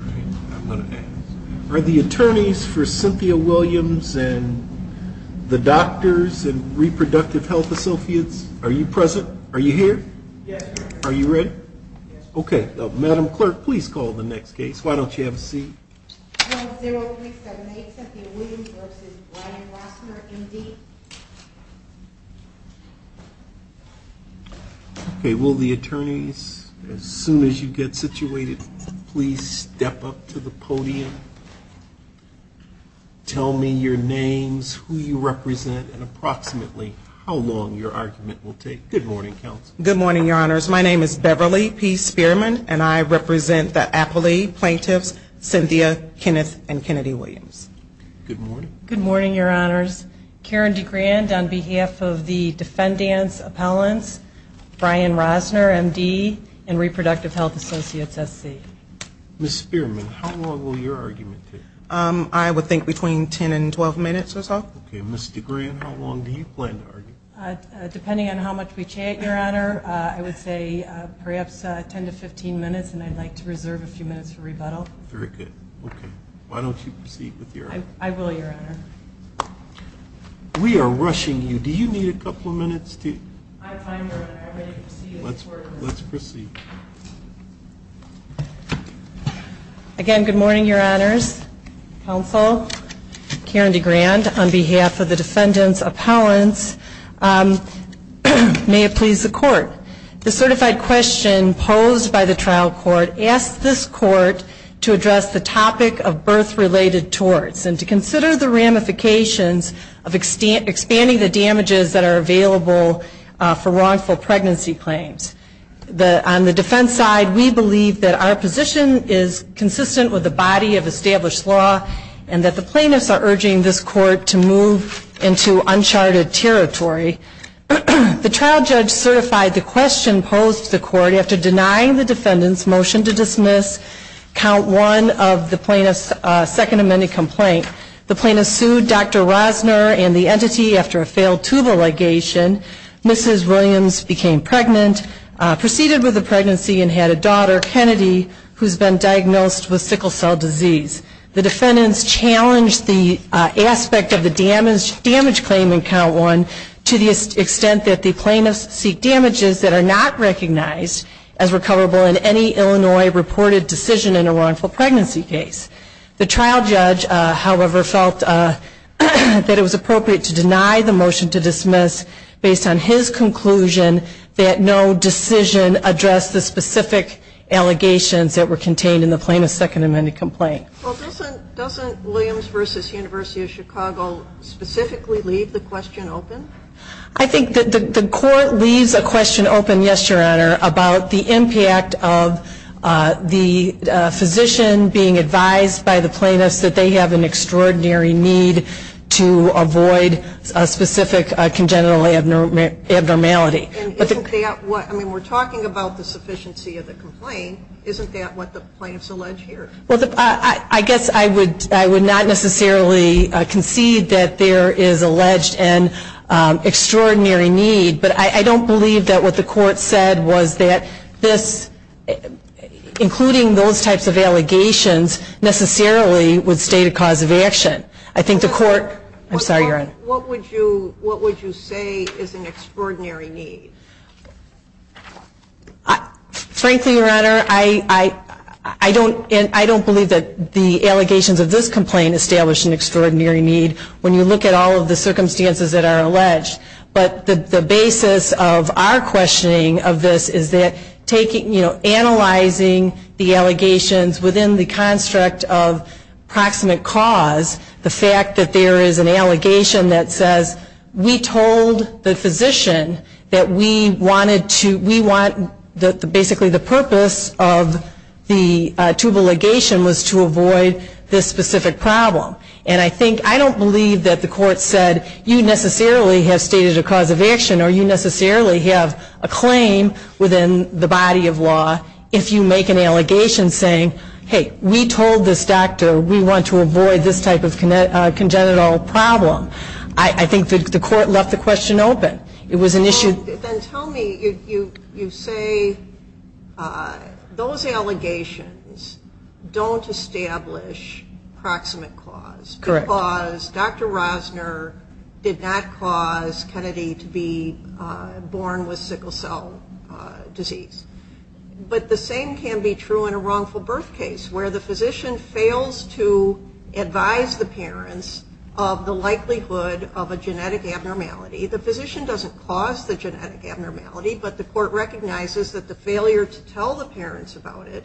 Are the attorneys for Cynthia Williams and the doctors and reproductive health associates. Are you present? Are you here? Yes. Are you ready? Okay. Madam Clerk, please call the next case. Why don't you have a seat? Okay. Will the attorneys, as soon as you get situated, please step up to the podium. Tell me your names, who you represent, and approximately how long your argument will take. Good morning, counsel. Good morning, your honors. My name is Beverly P. Spearman, and I represent the appellee plaintiffs, Cynthia, Kenneth, and Kennedy Williams. Good morning. Good morning, your honors. Karen DeGrand on behalf of the defendants appellants, Brian Rosner, M.D., and reproductive health associates, S.C. Ms. Spearman, how long will your argument take? I would think between 10 and 12 minutes or so. Okay. Ms. DeGrand, how long do you plan to argue? Depending on how much we chat, your honor, I would say perhaps 10 to 15 minutes, and I'd like to reserve a few minutes for rebuttal. Very good. Okay. Why don't you proceed with your argument? I will, your honor. We are rushing you. Do you need a couple of minutes? I'm fine, your honor. I'm ready to proceed. Let's proceed. Again, good morning, your honors, counsel. Karen DeGrand on behalf of the defendants appellants. May it please the court. The certified question posed by the trial court asks this court to address the topic of birth-related torts and to consider the ramifications of expanding the damages that are available for wrongful pregnancy claims. On the defense side, we believe that our position is consistent with the body of established law and that the plaintiffs are urging this court to move into uncharted territory. The trial judge certified the question posed to the court after denying the defendants' motion to dismiss count one of the plaintiff's second amended complaint. The plaintiffs sued Dr. Rosner and the entity after a failed tubal ligation. Mrs. Williams became pregnant, proceeded with the pregnancy, and had a daughter, Kennedy, who's been diagnosed with sickle cell disease. The defendants challenged the aspect of the damage claim in count one to the extent that the plaintiffs seek damages that are not recognized as recoverable in any Illinois reported decision in a wrongful pregnancy case. The trial judge, however, felt that it was appropriate to deny the motion to dismiss based on his conclusion that no decision addressed the specific allegations that were contained in the plaintiff's second amended complaint. Well, doesn't Williams v. University of Chicago specifically leave the question open? I think the court leaves a question open, yes, Your Honor, about the impact of the physician being advised by the plaintiffs that they have an extraordinary need to avoid a specific congenital abnormality. And isn't that what, I mean, we're talking about the sufficiency of the complaint, isn't that what the plaintiffs allege here? Well, I guess I would not necessarily concede that there is alleged an extraordinary need, but I don't believe that what the court said was that this, including those types of allegations, necessarily would state a cause of action. I think the court, I'm sorry, Your Honor. What would you say is an extraordinary need? Frankly, Your Honor, I don't believe that the allegations of this complaint establish an extraordinary need when you look at all of the circumstances that are alleged. But the basis of our questioning of this is that taking, you know, analyzing the allegations within the construct of proximate cause, the fact that there is an allegation that says we told the physician that we wanted to, we want, basically the purpose of the tubal ligation was to avoid this specific problem. And I think, I don't believe that the court said you necessarily have stated a cause of action or you necessarily have a claim within the body of law if you make an allegation saying, hey, we told this doctor we want to avoid this type of congenital problem. I think that the court left the question open. It was an issue. Then tell me, you say those allegations don't establish proximate cause. Correct. Because Dr. Rosner did not cause Kennedy to be born with sickle cell disease. But the same can be true in a wrongful birth case where the physician fails to advise the parents of the likelihood of a genetic abnormality. The physician doesn't cause the genetic abnormality, but the court recognizes that the failure to tell the parents about it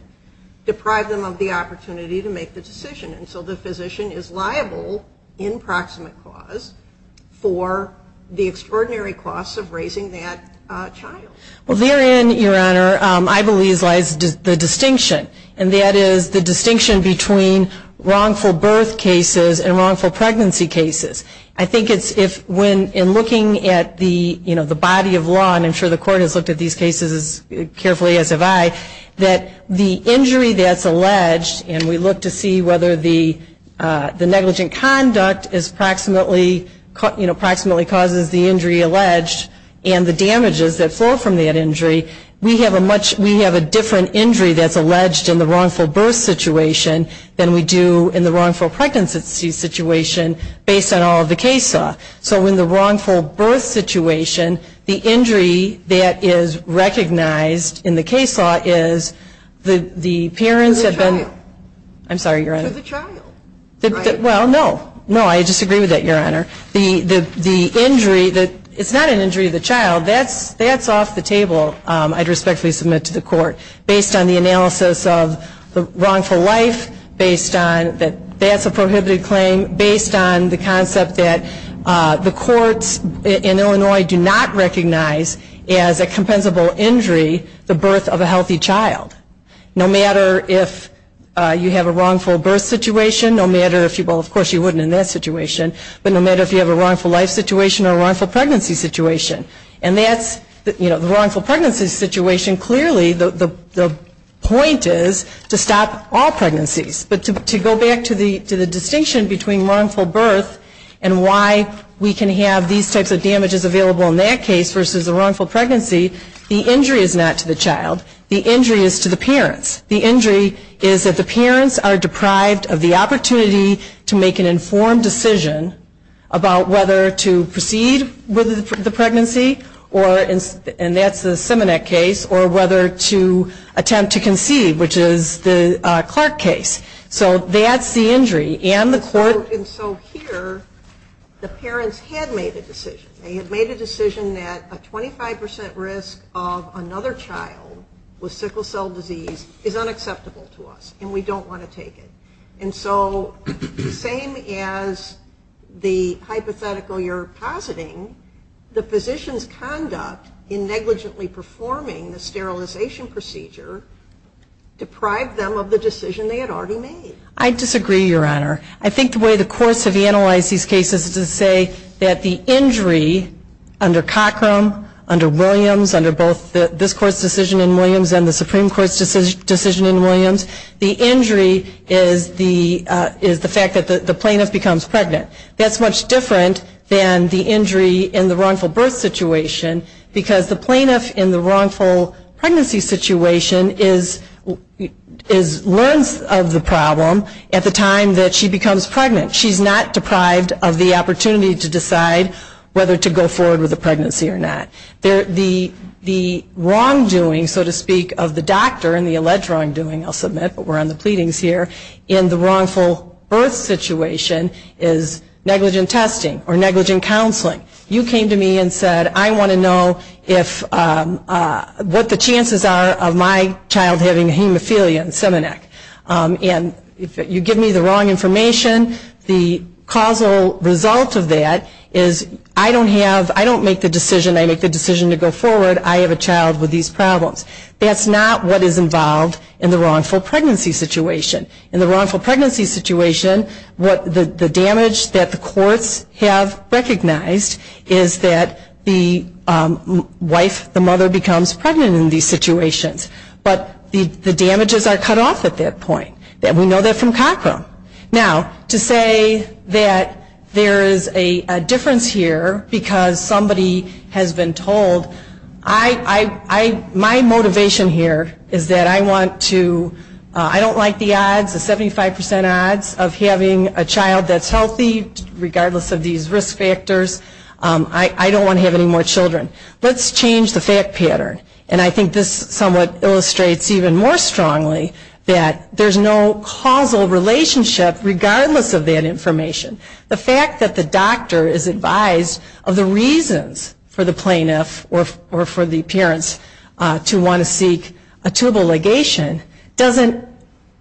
deprived them of the opportunity to make the decision. And so the physician is liable in proximate cause for the extraordinary costs of raising that child. Well, therein, Your Honor, I believe lies the distinction. And that is the distinction between wrongful birth cases and wrongful pregnancy cases. I think it's if when in looking at the, you know, the body of law, and I'm sure the court has looked at these cases as carefully as have I, that the injury that's alleged and we look to see whether the negligent conduct is proximately, you know, proximately causes the injury alleged and the damages that flow from that injury, we have a different injury that's alleged in the wrongful birth situation than we do in the wrongful pregnancy situation based on all of the case law. So in the wrongful birth situation, the injury that is recognized in the case law is the parents have been. For the child. I'm sorry, Your Honor. For the child. Well, no. No, I disagree with that, Your Honor. The injury, it's not an injury of the child. Well, that's off the table, I'd respectfully submit to the court. Based on the analysis of the wrongful life, based on that that's a prohibited claim, based on the concept that the courts in Illinois do not recognize as a compensable injury the birth of a healthy child. No matter if you have a wrongful birth situation, no matter if you, well, of course you wouldn't in that situation, but no matter if you have a wrongful life situation or a wrongful pregnancy situation. And that's, you know, the wrongful pregnancy situation, clearly the point is to stop all pregnancies. But to go back to the distinction between wrongful birth and why we can have these types of damages available in that case versus a wrongful pregnancy, the injury is not to the child. The injury is to the parents. The injury is that the parents are deprived of the opportunity to make an informed decision about whether to proceed with the pregnancy, and that's the Simonet case, or whether to attempt to conceive, which is the Clark case. So that's the injury. And the court. And so here the parents had made a decision. They had made a decision that a 25% risk of another child with sickle cell disease is unacceptable to us, and we don't want to take it. And so the same as the hypothetical you're positing, the physician's conduct in negligently performing the sterilization procedure deprived them of the decision they had already made. I disagree, Your Honor. I think the way the courts have analyzed these cases is to say that the injury under Cockrum, under Williams, under both this court's decision in Williams and the Supreme Court's decision in Williams, the injury is the fact that the plaintiff becomes pregnant. That's much different than the injury in the wrongful birth situation, because the plaintiff in the wrongful pregnancy situation learns of the problem at the time that she becomes pregnant. She's not deprived of the opportunity to decide whether to go forward with the pregnancy or not. The wrongdoing, so to speak, of the doctor, and the alleged wrongdoing, I'll submit, but we're on the pleadings here, in the wrongful birth situation is negligent testing or negligent counseling. You came to me and said, I want to know what the chances are of my child having hemophilia in Simonet. And if you give me the wrong information, the causal result of that is I don't make the decision to go forward. I have a child with these problems. That's not what is involved in the wrongful pregnancy situation. In the wrongful pregnancy situation, the damage that the courts have recognized is that the wife, the mother becomes pregnant in these situations, but the damages are cut off at that point. We know that from Cochrane. Now, to say that there is a difference here because somebody has been told, my motivation here is that I want to, I don't like the odds, the 75% odds of having a child that's healthy, regardless of these risk factors. I don't want to have any more children. Let's change the fact pattern. And I think this somewhat illustrates even more strongly that there is no causal relationship, regardless of that information. The fact that the doctor is advised of the reasons for the plaintiff or for the parents to want to seek a tubal ligation doesn't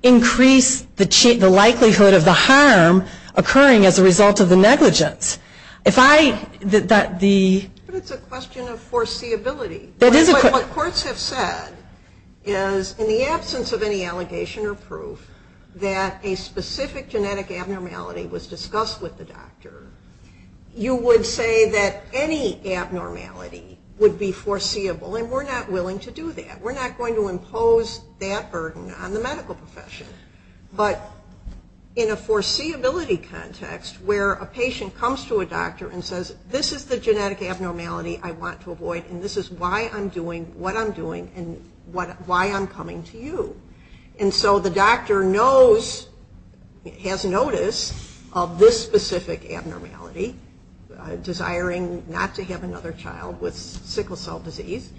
increase the likelihood of the harm occurring as a result of the negligence. But it's a question of foreseeability. What courts have said is in the absence of any allegation or proof that a specific genetic abnormality was discussed with the doctor, you would say that any abnormality would be foreseeable, and we're not willing to do that. We're not going to impose that burden on the medical profession. But in a foreseeability context where a patient comes to a doctor and says, this is the genetic abnormality I want to avoid, and this is why I'm doing what I'm doing, and why I'm coming to you. And so the doctor knows, has notice of this specific abnormality, desiring not to have another child with sickle cell disease,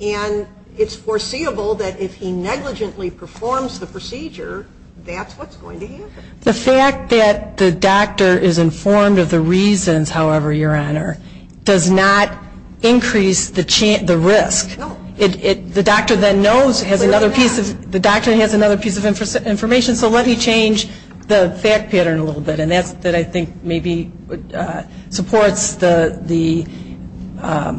and it's foreseeable that if he negligently performs the procedure, that's what's going to happen. The fact that the doctor is informed of the reasons, however, Your Honor, does not increase the risk. No. The doctor then knows, has another piece of information. So let me change the fact pattern a little bit, and that's that I think maybe supports the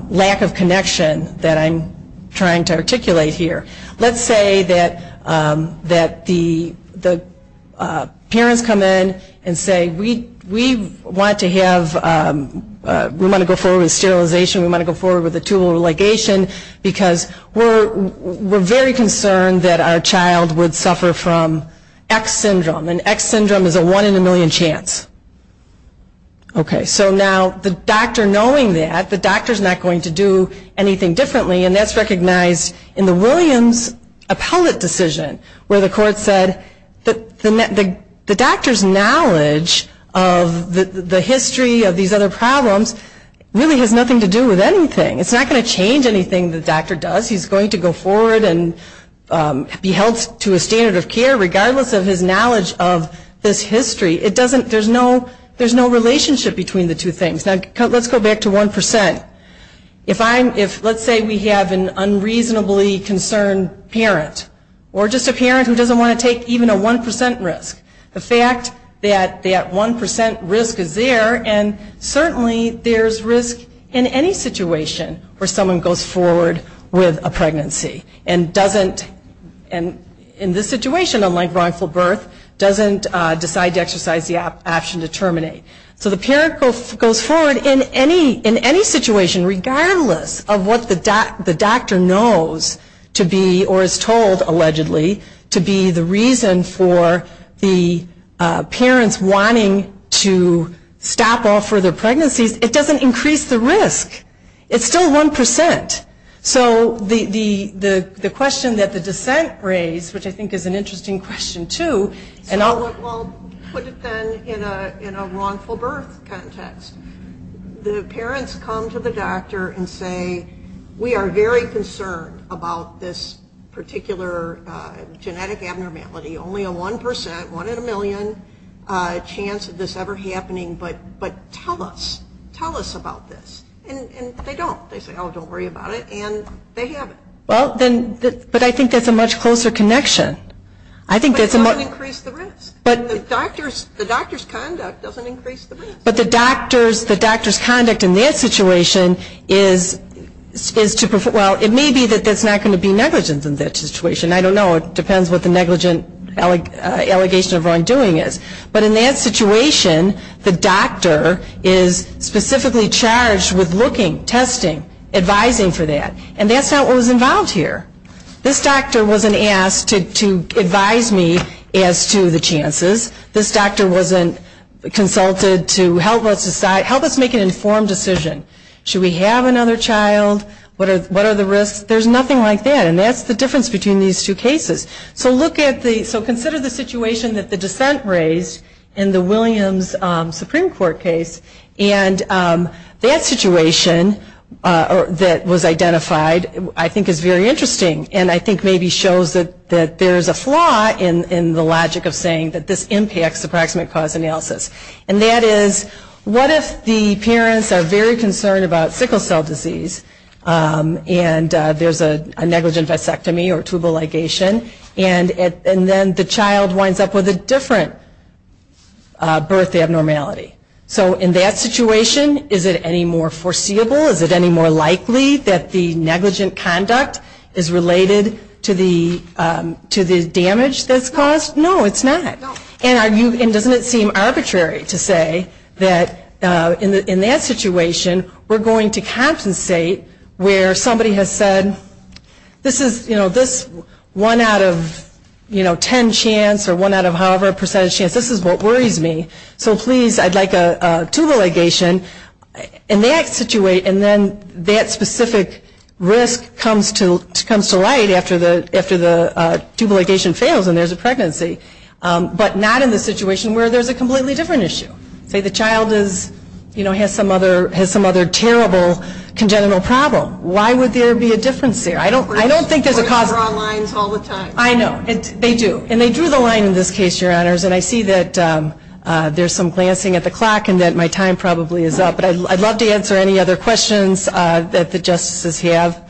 lack of connection that I'm trying to articulate here. Let's say that the parents come in and say, we want to go forward with sterilization, we want to go forward with a tubal relegation, because we're very concerned that our child would suffer from X syndrome, and X syndrome is a one in a million chance. Okay, so now the doctor knowing that, the doctor's not going to do anything differently, and that's recognized in the Williams appellate decision, where the court said that the doctor's knowledge of the history of these other problems really has nothing to do with anything. It's not going to change anything the doctor does. He's going to go forward and be held to a standard of care regardless of his knowledge of this history. There's no relationship between the two things. Now let's go back to 1%. Let's say we have an unreasonably concerned parent, or just a parent who doesn't want to take even a 1% risk. The fact that that 1% risk is there, and certainly there's risk in any situation where someone goes forward with a pregnancy, and doesn't, in this situation, unlike wrongful birth, doesn't decide to exercise the option to terminate. So the parent goes forward in any situation regardless of what the doctor knows to be, or is told, allegedly, to be the reason for the parents wanting to stop off for their pregnancies, it doesn't increase the risk. It's still 1%. So the question that the dissent raised, which I think is an interesting question too, and I'll put it then in a wrongful birth context. The parents come to the doctor and say, we are very concerned about this particular genetic abnormality, only a 1%, one in a million, chance of this ever happening, but tell us. Tell us about this. And they don't. They say, oh, don't worry about it, and they have it. But I think that's a much closer connection. But it doesn't increase the risk. The doctor's conduct doesn't increase the risk. But the doctor's conduct in that situation is to, well, it may be that that's not going to be negligent in that situation. I don't know. It depends what the negligent allegation of wrongdoing is. But in that situation, the doctor is specifically charged with looking, testing, advising for that. And that's not what was involved here. This doctor wasn't asked to advise me as to the chances. This doctor wasn't consulted to help us make an informed decision. Should we have another child? What are the risks? There's nothing like that. And that's the difference between these two cases. So consider the situation that the dissent raised in the Williams Supreme Court case. And that situation that was identified I think is very interesting and I think maybe shows that there's a flaw in the logic of saying that this impacts approximate cause analysis. And that is, what if the parents are very concerned about sickle cell disease and there's a negligent vasectomy or tubal ligation, and then the child winds up with a different birth abnormality? So in that situation, is it any more foreseeable? Is it any more likely that the negligent conduct is related to the damage that's caused? No, it's not. And doesn't it seem arbitrary to say that in that situation, we're going to compensate where somebody has said, this one out of ten chance or one out of however percentage chance, this is what worries me. So please, I'd like a tubal ligation. In that situation, that specific risk comes to light after the tubal ligation fails and there's a pregnancy. But not in the situation where there's a completely different issue. Say the child has some other terrible congenital problem. Why would there be a difference there? I don't think there's a cause. We draw lines all the time. I know. They do. And they drew the line in this case, Your Honors. And I see that there's some glancing at the clock and that my time probably is up. But I'd love to answer any other questions that the Justices have.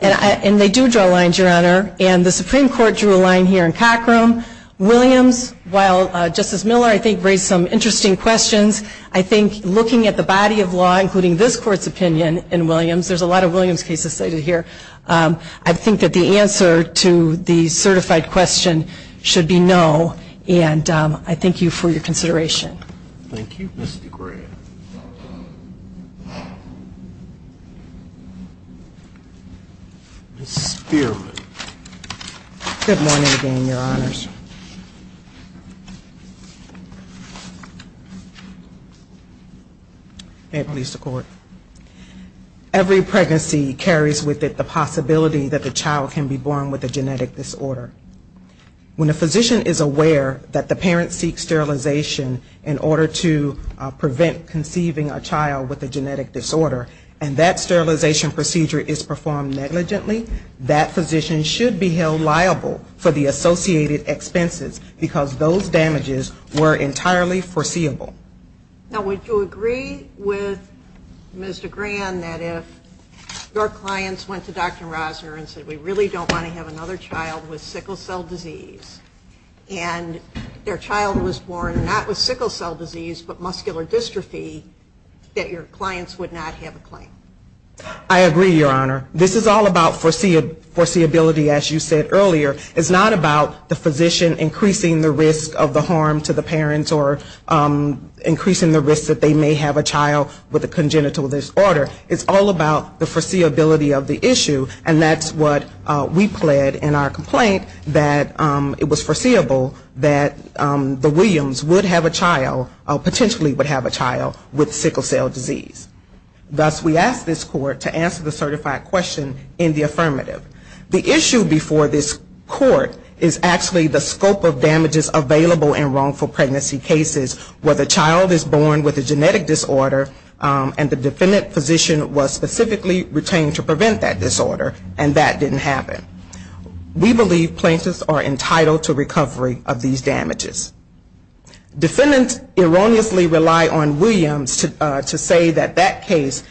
And they do draw lines, Your Honor. And the Supreme Court drew a line here in Cockrum. Williams, while Justice Miller, I think, raised some interesting questions, I think looking at the body of law, including this Court's opinion in Williams, there's a lot of Williams cases cited here, I think that the answer to the certified question should be no. And I thank you for your consideration. Thank you, Ms. DeGray. Ms. Spearman. Good morning again, Your Honors. May it please the Court. Every pregnancy carries with it the possibility that the child can be born with a genetic disorder. When a physician is aware that the parent seeks sterilization in order to prevent conceiving a child with a genetic disorder and that sterilization procedure is performed negligently, that physician should be held liable for the associated expenses because those damages were entirely foreseeable. Now, would you agree with Mr. Grand that if your clients went to Dr. Rosner and said, we really don't want to have another child with sickle cell disease, and their child was born not with sickle cell disease but muscular dystrophy, that your clients would not have a claim? I agree, Your Honor. This is all about foreseeability, as you said earlier. It's not about the physician increasing the risk of the harm to the parents or increasing the risk that they may have a child with a congenital disorder. It's all about the foreseeability of the issue, and that's what we pled in our complaint that it was foreseeable that the Williams would have a child, potentially would have a child, with sickle cell disease. Thus, we ask this Court to answer the certified question in the affirmative. The issue before this Court is actually the scope of damages available in wrongful pregnancy cases where the child is born with a genetic disorder and the defendant physician was specifically retained to prevent that disorder, and that didn't happen. We believe plaintiffs are entitled to recovery of these damages. Defendants erroneously rely on Williams to say that that case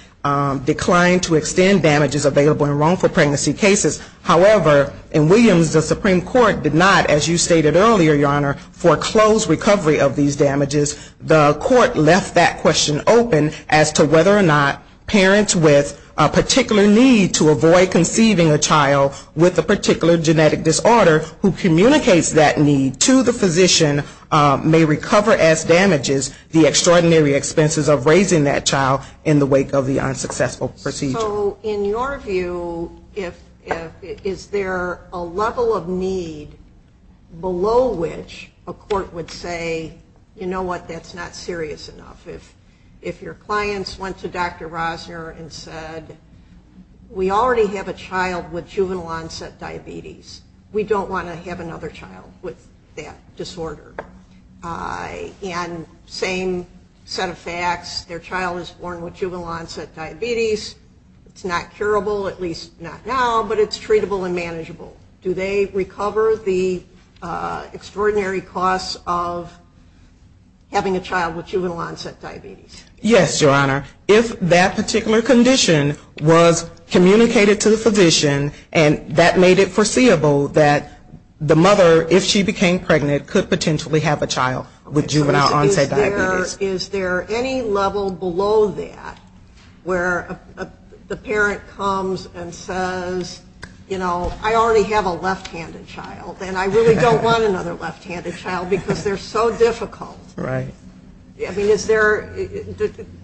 declined to extend damages available in wrongful pregnancy cases. However, in Williams, the Supreme Court did not, as you stated earlier, Your Honor, foreclose recovery of these damages. The Court left that question open as to whether or not parents with a particular need to avoid conceiving a child with a particular genetic disorder who communicates that need to the physician may recover as damages the extraordinary expenses of raising that child in the wake of the unsuccessful procedure. So in your view, is there a level of need below which a court would say, you know what, that's not serious enough? If your clients went to Dr. Rosner and said, we already have a child with juvenile onset diabetes. We don't want to have another child with that disorder. And same set of facts, their child is born with juvenile onset diabetes. It's not curable, at least not now, but it's treatable and manageable. Do they recover the extraordinary costs of having a child with juvenile onset diabetes? Yes, Your Honor. If that particular condition was communicated to the physician and that made it foreseeable that the mother, if she became pregnant, could potentially have a child with juvenile onset diabetes. Is there any level below that where the parent comes and says, you know, I already have a left-handed child and I really don't want another left-handed child because they're so difficult? Right. I mean, is there,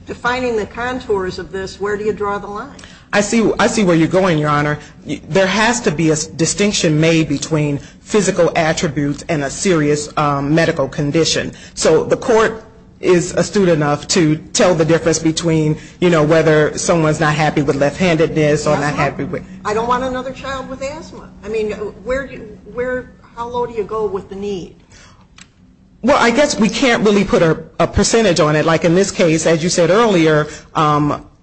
defining the contours of this, where do you draw the line? I see where you're going, Your Honor. There has to be a distinction made between physical attributes and a serious medical condition. So the court is astute enough to tell the difference between, you know, whether someone's not happy with left-handedness or not happy with. I don't want another child with asthma. I mean, where, how low do you go with the need? Well, I guess we can't really put a percentage on it. Like in this case, as you said earlier,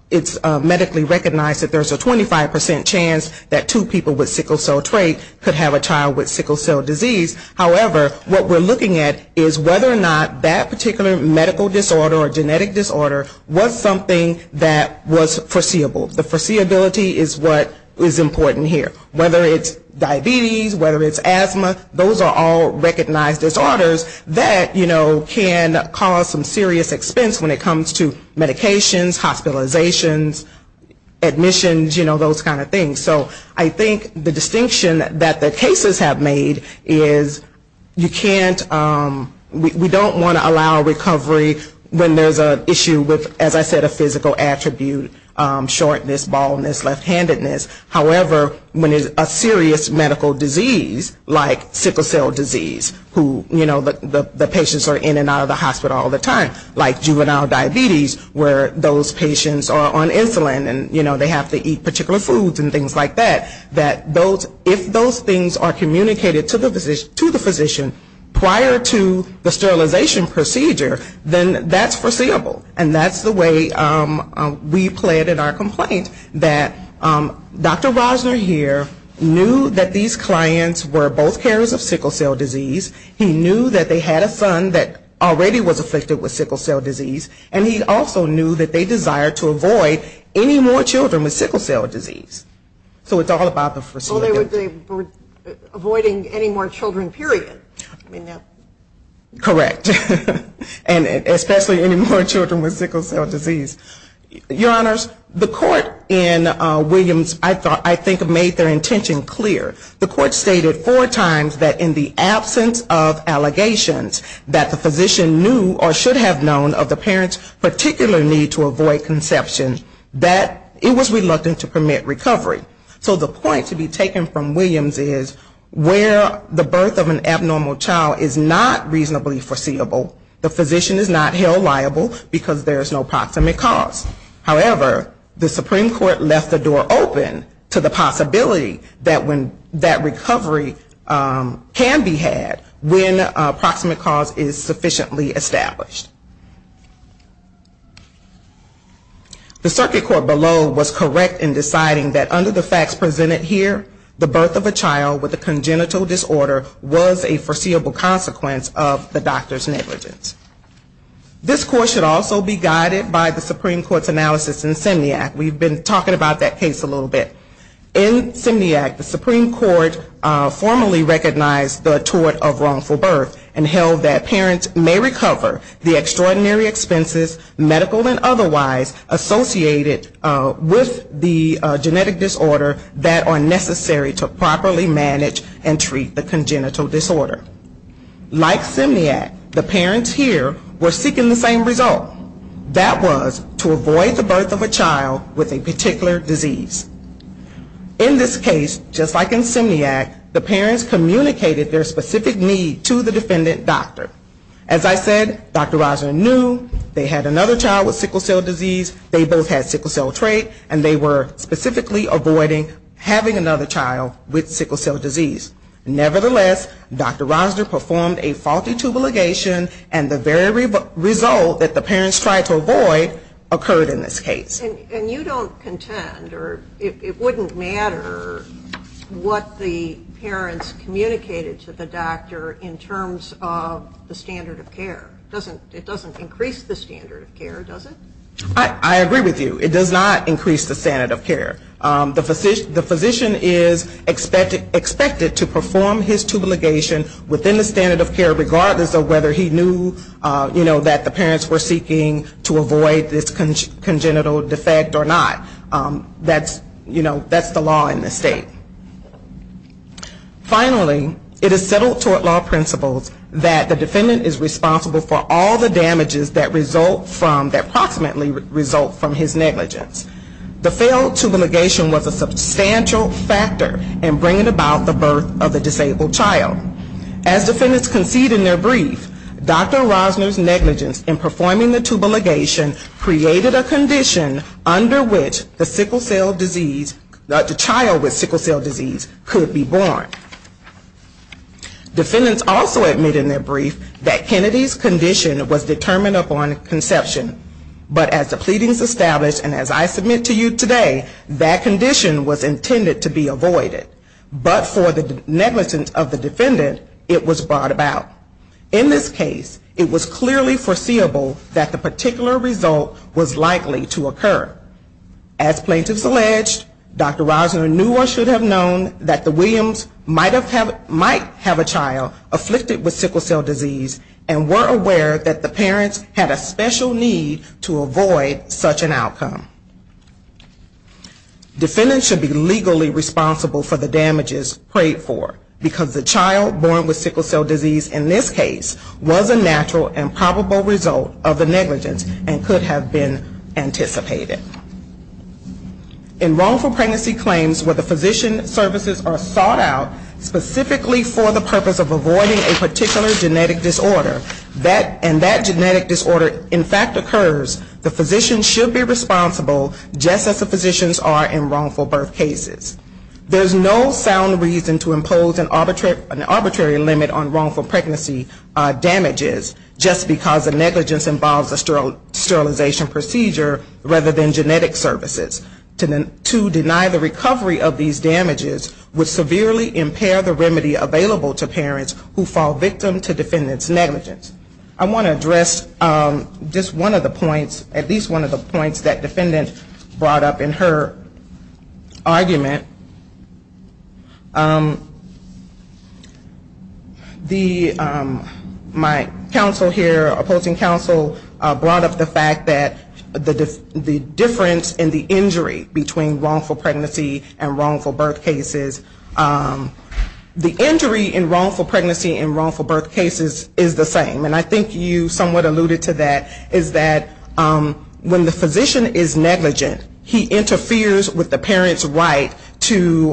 it's medically recognized that there's a 25% chance that two people with sickle cell trait could have a child with sickle cell disease. However, what we're looking at is whether or not that particular medical disorder or genetic disorder was something that was foreseeable. The foreseeability is what is important here. Whether it's diabetes, whether it's asthma, those are all recognized disorders that, you know, can cause some serious expense when it comes to medications, hospitalizations, admissions, you know, those kind of things. So I think the distinction that the cases have made is you can't, we don't want to allow recovery when there's an issue with, as I said, a physical attribute, shortness, baldness, left-handedness. However, when it's a serious medical disease, like sickle cell disease, who, you know, the patients are in and out of the hospital all the time, like juvenile diabetes, where those patients are on insulin and, you know, they have to eat particular foods and things like that, that if those things are communicated to the physician prior to the sterilization procedure, then that's foreseeable. And that's the way we play it in our complaint, that Dr. Rosner here knew that these clients were both carriers of sickle cell disease, he knew that they had a son that already was afflicted with sickle cell disease, and he also knew that they desired to avoid any more children with sickle cell disease. So it's all about the foreseeability. Well, they were avoiding any more children, period. Correct. And especially any more children with sickle cell disease. Your Honors, the court in Williams, I think, made their intention clear. The court stated four times that in the absence of allegations that the physician knew or should have known of the parent's particular need to avoid conception, that it was reluctant to permit recovery. So the point to be taken from Williams is where the birth of an abnormal child is not reasonably foreseeable, the physician is not held liable because there is no proximate cause. However, the Supreme Court left the door open to the possibility that recovery can be had when a proximate cause is sufficiently established. The circuit court below was correct in deciding that under the facts presented here, the birth of a child with a congenital disorder was a foreseeable consequence of the doctor's negligence. This court should also be guided by the Supreme Court's analysis in Simniac. We've been talking about that case a little bit. In Simniac, the Supreme Court formally recognized the tort of wrongful birth and held that parents may recover the extraordinary expenses, medical and otherwise, associated with the genetic disorder that are necessary to properly manage and treat the congenital disorder. Like Simniac, the parents here were seeking the same result. That was to avoid the birth of a child with a particular disease. In this case, just like in Simniac, the parents communicated their specific need to the defendant doctor. As I said, Dr. Rizer knew they had another child with sickle cell disease, they both had sickle cell trait and they were specifically avoiding having another child with sickle cell disease. Nevertheless, Dr. Rizer performed a faulty tubal ligation and the very result that the parents tried to avoid occurred in this case. And you don't contend or it wouldn't matter what the parents communicated to the doctor in terms of the standard of care. It doesn't increase the standard of care, does it? I agree with you. It does not increase the standard of care. The physician is expected to perform his tubal ligation within the standard of care, regardless of whether he knew, you know, that the parents were seeking to avoid this congenital defect or not. That's, you know, that's the law in this state. Finally, it is settled toward law principles that the defendant is responsible for all the damages that result from, that approximately result from his negligence. The failed tubal ligation was a substantial factor in bringing about the birth of the disabled child. As defendants concede in their brief, Dr. Rizer's negligence in performing the tubal ligation created a condition under which the sickle cell disease, the child with sickle cell disease could be born. Defendants also admit in their brief that Kennedy's condition was determined upon conception, but as the pleadings established and as I submit to you today, that condition was intended to be avoided, but for the negligence of the defendant, it was brought about. In this case, it was clearly foreseeable that the particular result was likely to occur. As plaintiffs alleged, Dr. Rizer knew or should have known that the Williams might have a child afflicted with sickle cell disease, and were aware that the parents had a special need to avoid such an outcome. Defendants should be legally responsible for the damages prayed for, because the child born with sickle cell disease in this case was a natural and probable result of the negligence and could have been anticipated. In wrongful pregnancy claims where the physician services are sought out specifically for the purpose of avoiding a particular genetic disorder, and that genetic disorder in fact occurs, the physician should be responsible just as the physicians are in wrongful birth cases. There's no sound reason to impose an arbitrary limit on wrongful pregnancy damages, just because the negligence involves a sterilization procedure rather than genetic services. To deny the recovery of these damages would severely impair the remedy available to parents who fall victim to defendant's negligence. I want to address just one of the points, at least one of the points that defendant brought up in her argument. My counsel here, opposing counsel, brought up the fact that the difference in the injury between wrongful pregnancy and wrongful birth cases, the injury in wrongful pregnancy and wrongful birth cases is the same. And I think you somewhat alluded to that, is that when the physician is negligent, he interferes with the parent's right to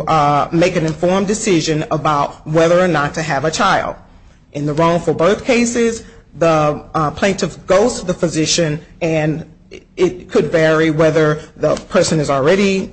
make an informed decision about whether or not to have a child. In the wrongful birth cases, the plaintiff goes to the physician and it could vary whether the person is already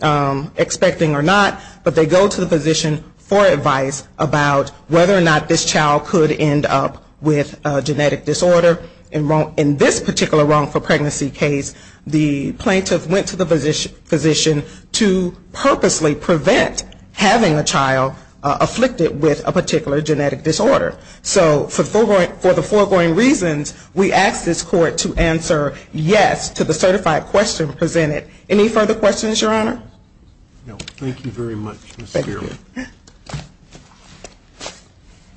expecting or not, but they go to the physician for advice about whether or not this child could end up with a genetic disorder. In this particular wrongful pregnancy case, the plaintiff went to the physician to purposely prevent having a child afflicted with a particular genetic disorder. So for the foregoing reasons, we ask this court to answer yes to the certified question presented. Any further questions, Your Honor? No, thank you very much, Ms. Spiro.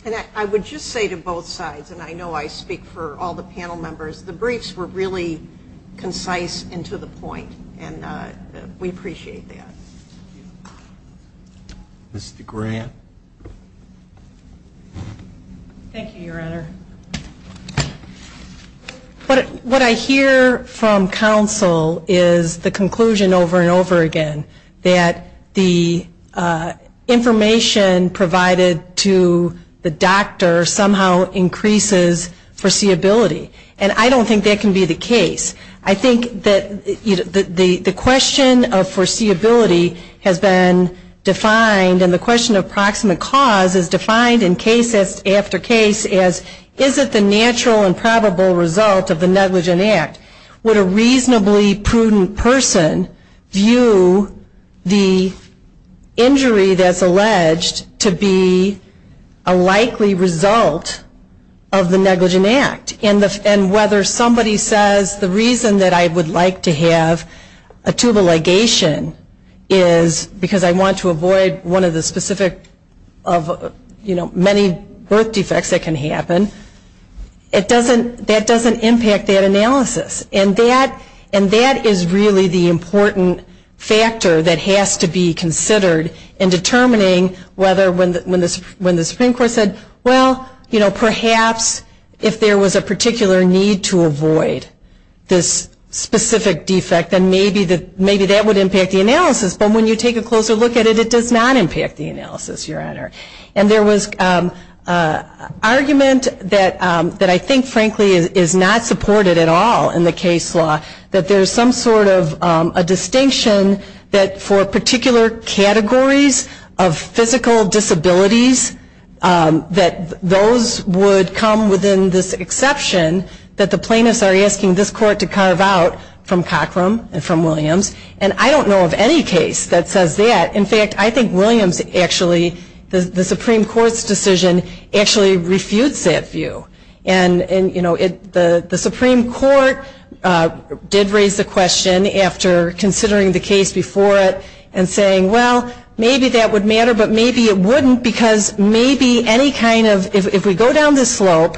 And I would just say to both sides, and I know I speak for all the panel members, the briefs were really concise and to the point, and we appreciate that. Ms. DeGrant. Thank you, Your Honor. What I hear from counsel is the conclusion over and over again that the information provided to the doctor somehow increases foreseeability. And I don't think that can be the case. I think that the question of foreseeability has been defined, and the question of proximate cause is defined in case after case as, is it the natural and probable result of the negligent act? Would a reasonably prudent person view the injury that's alleged to be a likely result of the negligent act? And whether somebody says the reason that I would like to have a tubal ligation is because I want to avoid one of the specific many birth defects that can happen, that doesn't impact that analysis. And that is really the important factor that has to be considered in determining whether when the Supreme Court said, well, perhaps if there was a particular need to avoid this specific defect, then maybe that would impact the analysis, but when you take a closer look at it, it does not impact the analysis, Your Honor. And there was argument that I think, frankly, is not supported at all in the case law, that there's some sort of a distinction that for particular categories of physical disabilities, that those would come within this exception that the plaintiffs are asking this court to carve out from Cochram. And from Williams, and I don't know of any case that says that. In fact, I think Williams actually, the Supreme Court's decision actually refutes that view. And, you know, the Supreme Court did raise the question after considering the case before it and saying, well, maybe that would matter, but maybe it wouldn't because maybe any kind of, if we go down this slope,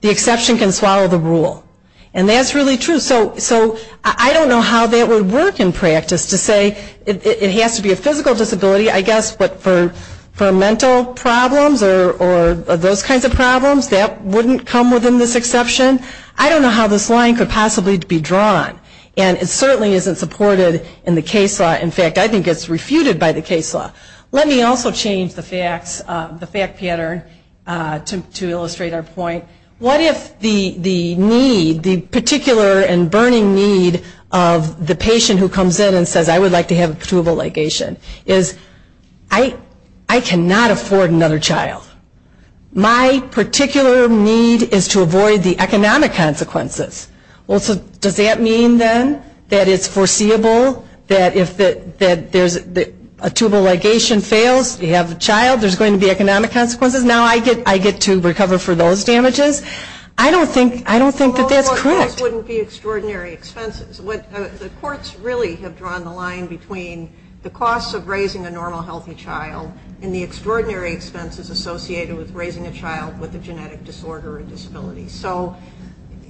the exception can swallow the rule. And that's really true. So I don't know how that would work in practice to say it has to be a physical disability, I guess, but for mental problems or those kinds of problems, that wouldn't come within this exception. I don't know how this line could possibly be drawn. And it certainly isn't supported in the case law. In fact, I think it's refuted by the case law. Let me also change the facts, the fact pattern, to illustrate our point. What if the need, the particular and burning need of the patient who comes in and says, I would like to have a pertubable ligation, is I cannot afford another child. My particular need is to avoid the economic consequences. Well, so does that mean then that it's foreseeable that if a tubal ligation fails, you have a child, there's going to be economic consequences. Now I get to recover for those damages. I don't think that that's correct. Well, those wouldn't be extraordinary expenses. The courts really have drawn the line between the cost of raising a normal healthy child and the extraordinary expenses associated with raising a child with a genetic disorder or disability. So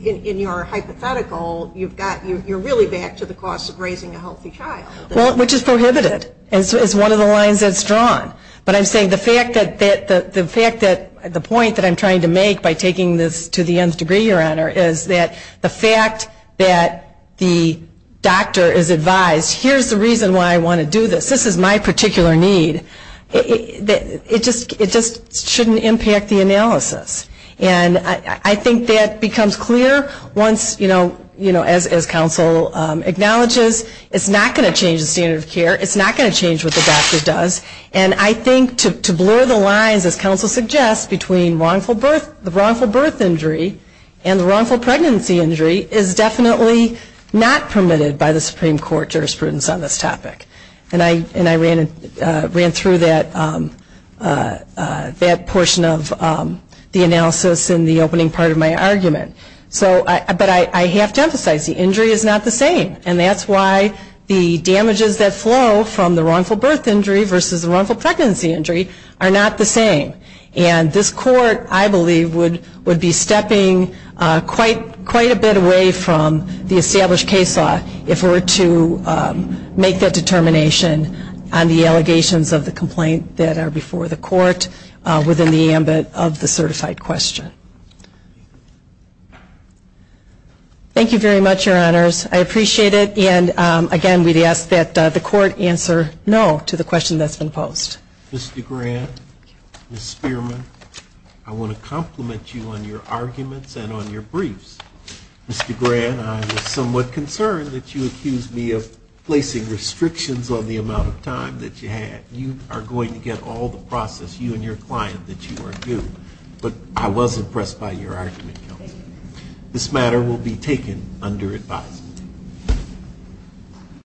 in your hypothetical, you're really back to the cost of raising a healthy child. Well, which is prohibited, is one of the lines that's drawn. But I'm saying the fact that the point that I'm trying to make by taking this to the nth degree, Your Honor, is that the fact that the doctor is advised, here's the reason why I want to do this, this is my particular need, it just shouldn't impact the analysis. And I think that becomes clear once, you know, as counsel acknowledges, it's not going to change the standard of care, it's not going to change what the doctor does. And I think to blur the lines, as counsel suggests, between the wrongful birth injury and the wrongful pregnancy injury is definitely not permitted by the Supreme Court jurisprudence on this topic. And I ran through that portion of the analysis in the opening part of my argument. But I have to emphasize, the injury is not the same. And that's why the damages that flow from the wrongful birth injury versus the wrongful pregnancy injury are not the same. And this Court, I believe, would be stepping quite a bit away from the established case law if we were to make that determination on the allegations of the complaint that are before the Court within the ambit of the certified question. Thank you very much, Your Honors. I appreciate it, and again, we ask that the Court answer no to the question that's been posed. Mr. Grant, Ms. Spearman, I want to compliment you on your arguments and on your briefs. Mr. Grant, I was somewhat concerned that you accused me of placing restrictions on the amount of time that you had. You are going to get all the process, you and your client, that you are due. But I was impressed by your argument, Counsel. This matter will be taken under advisement.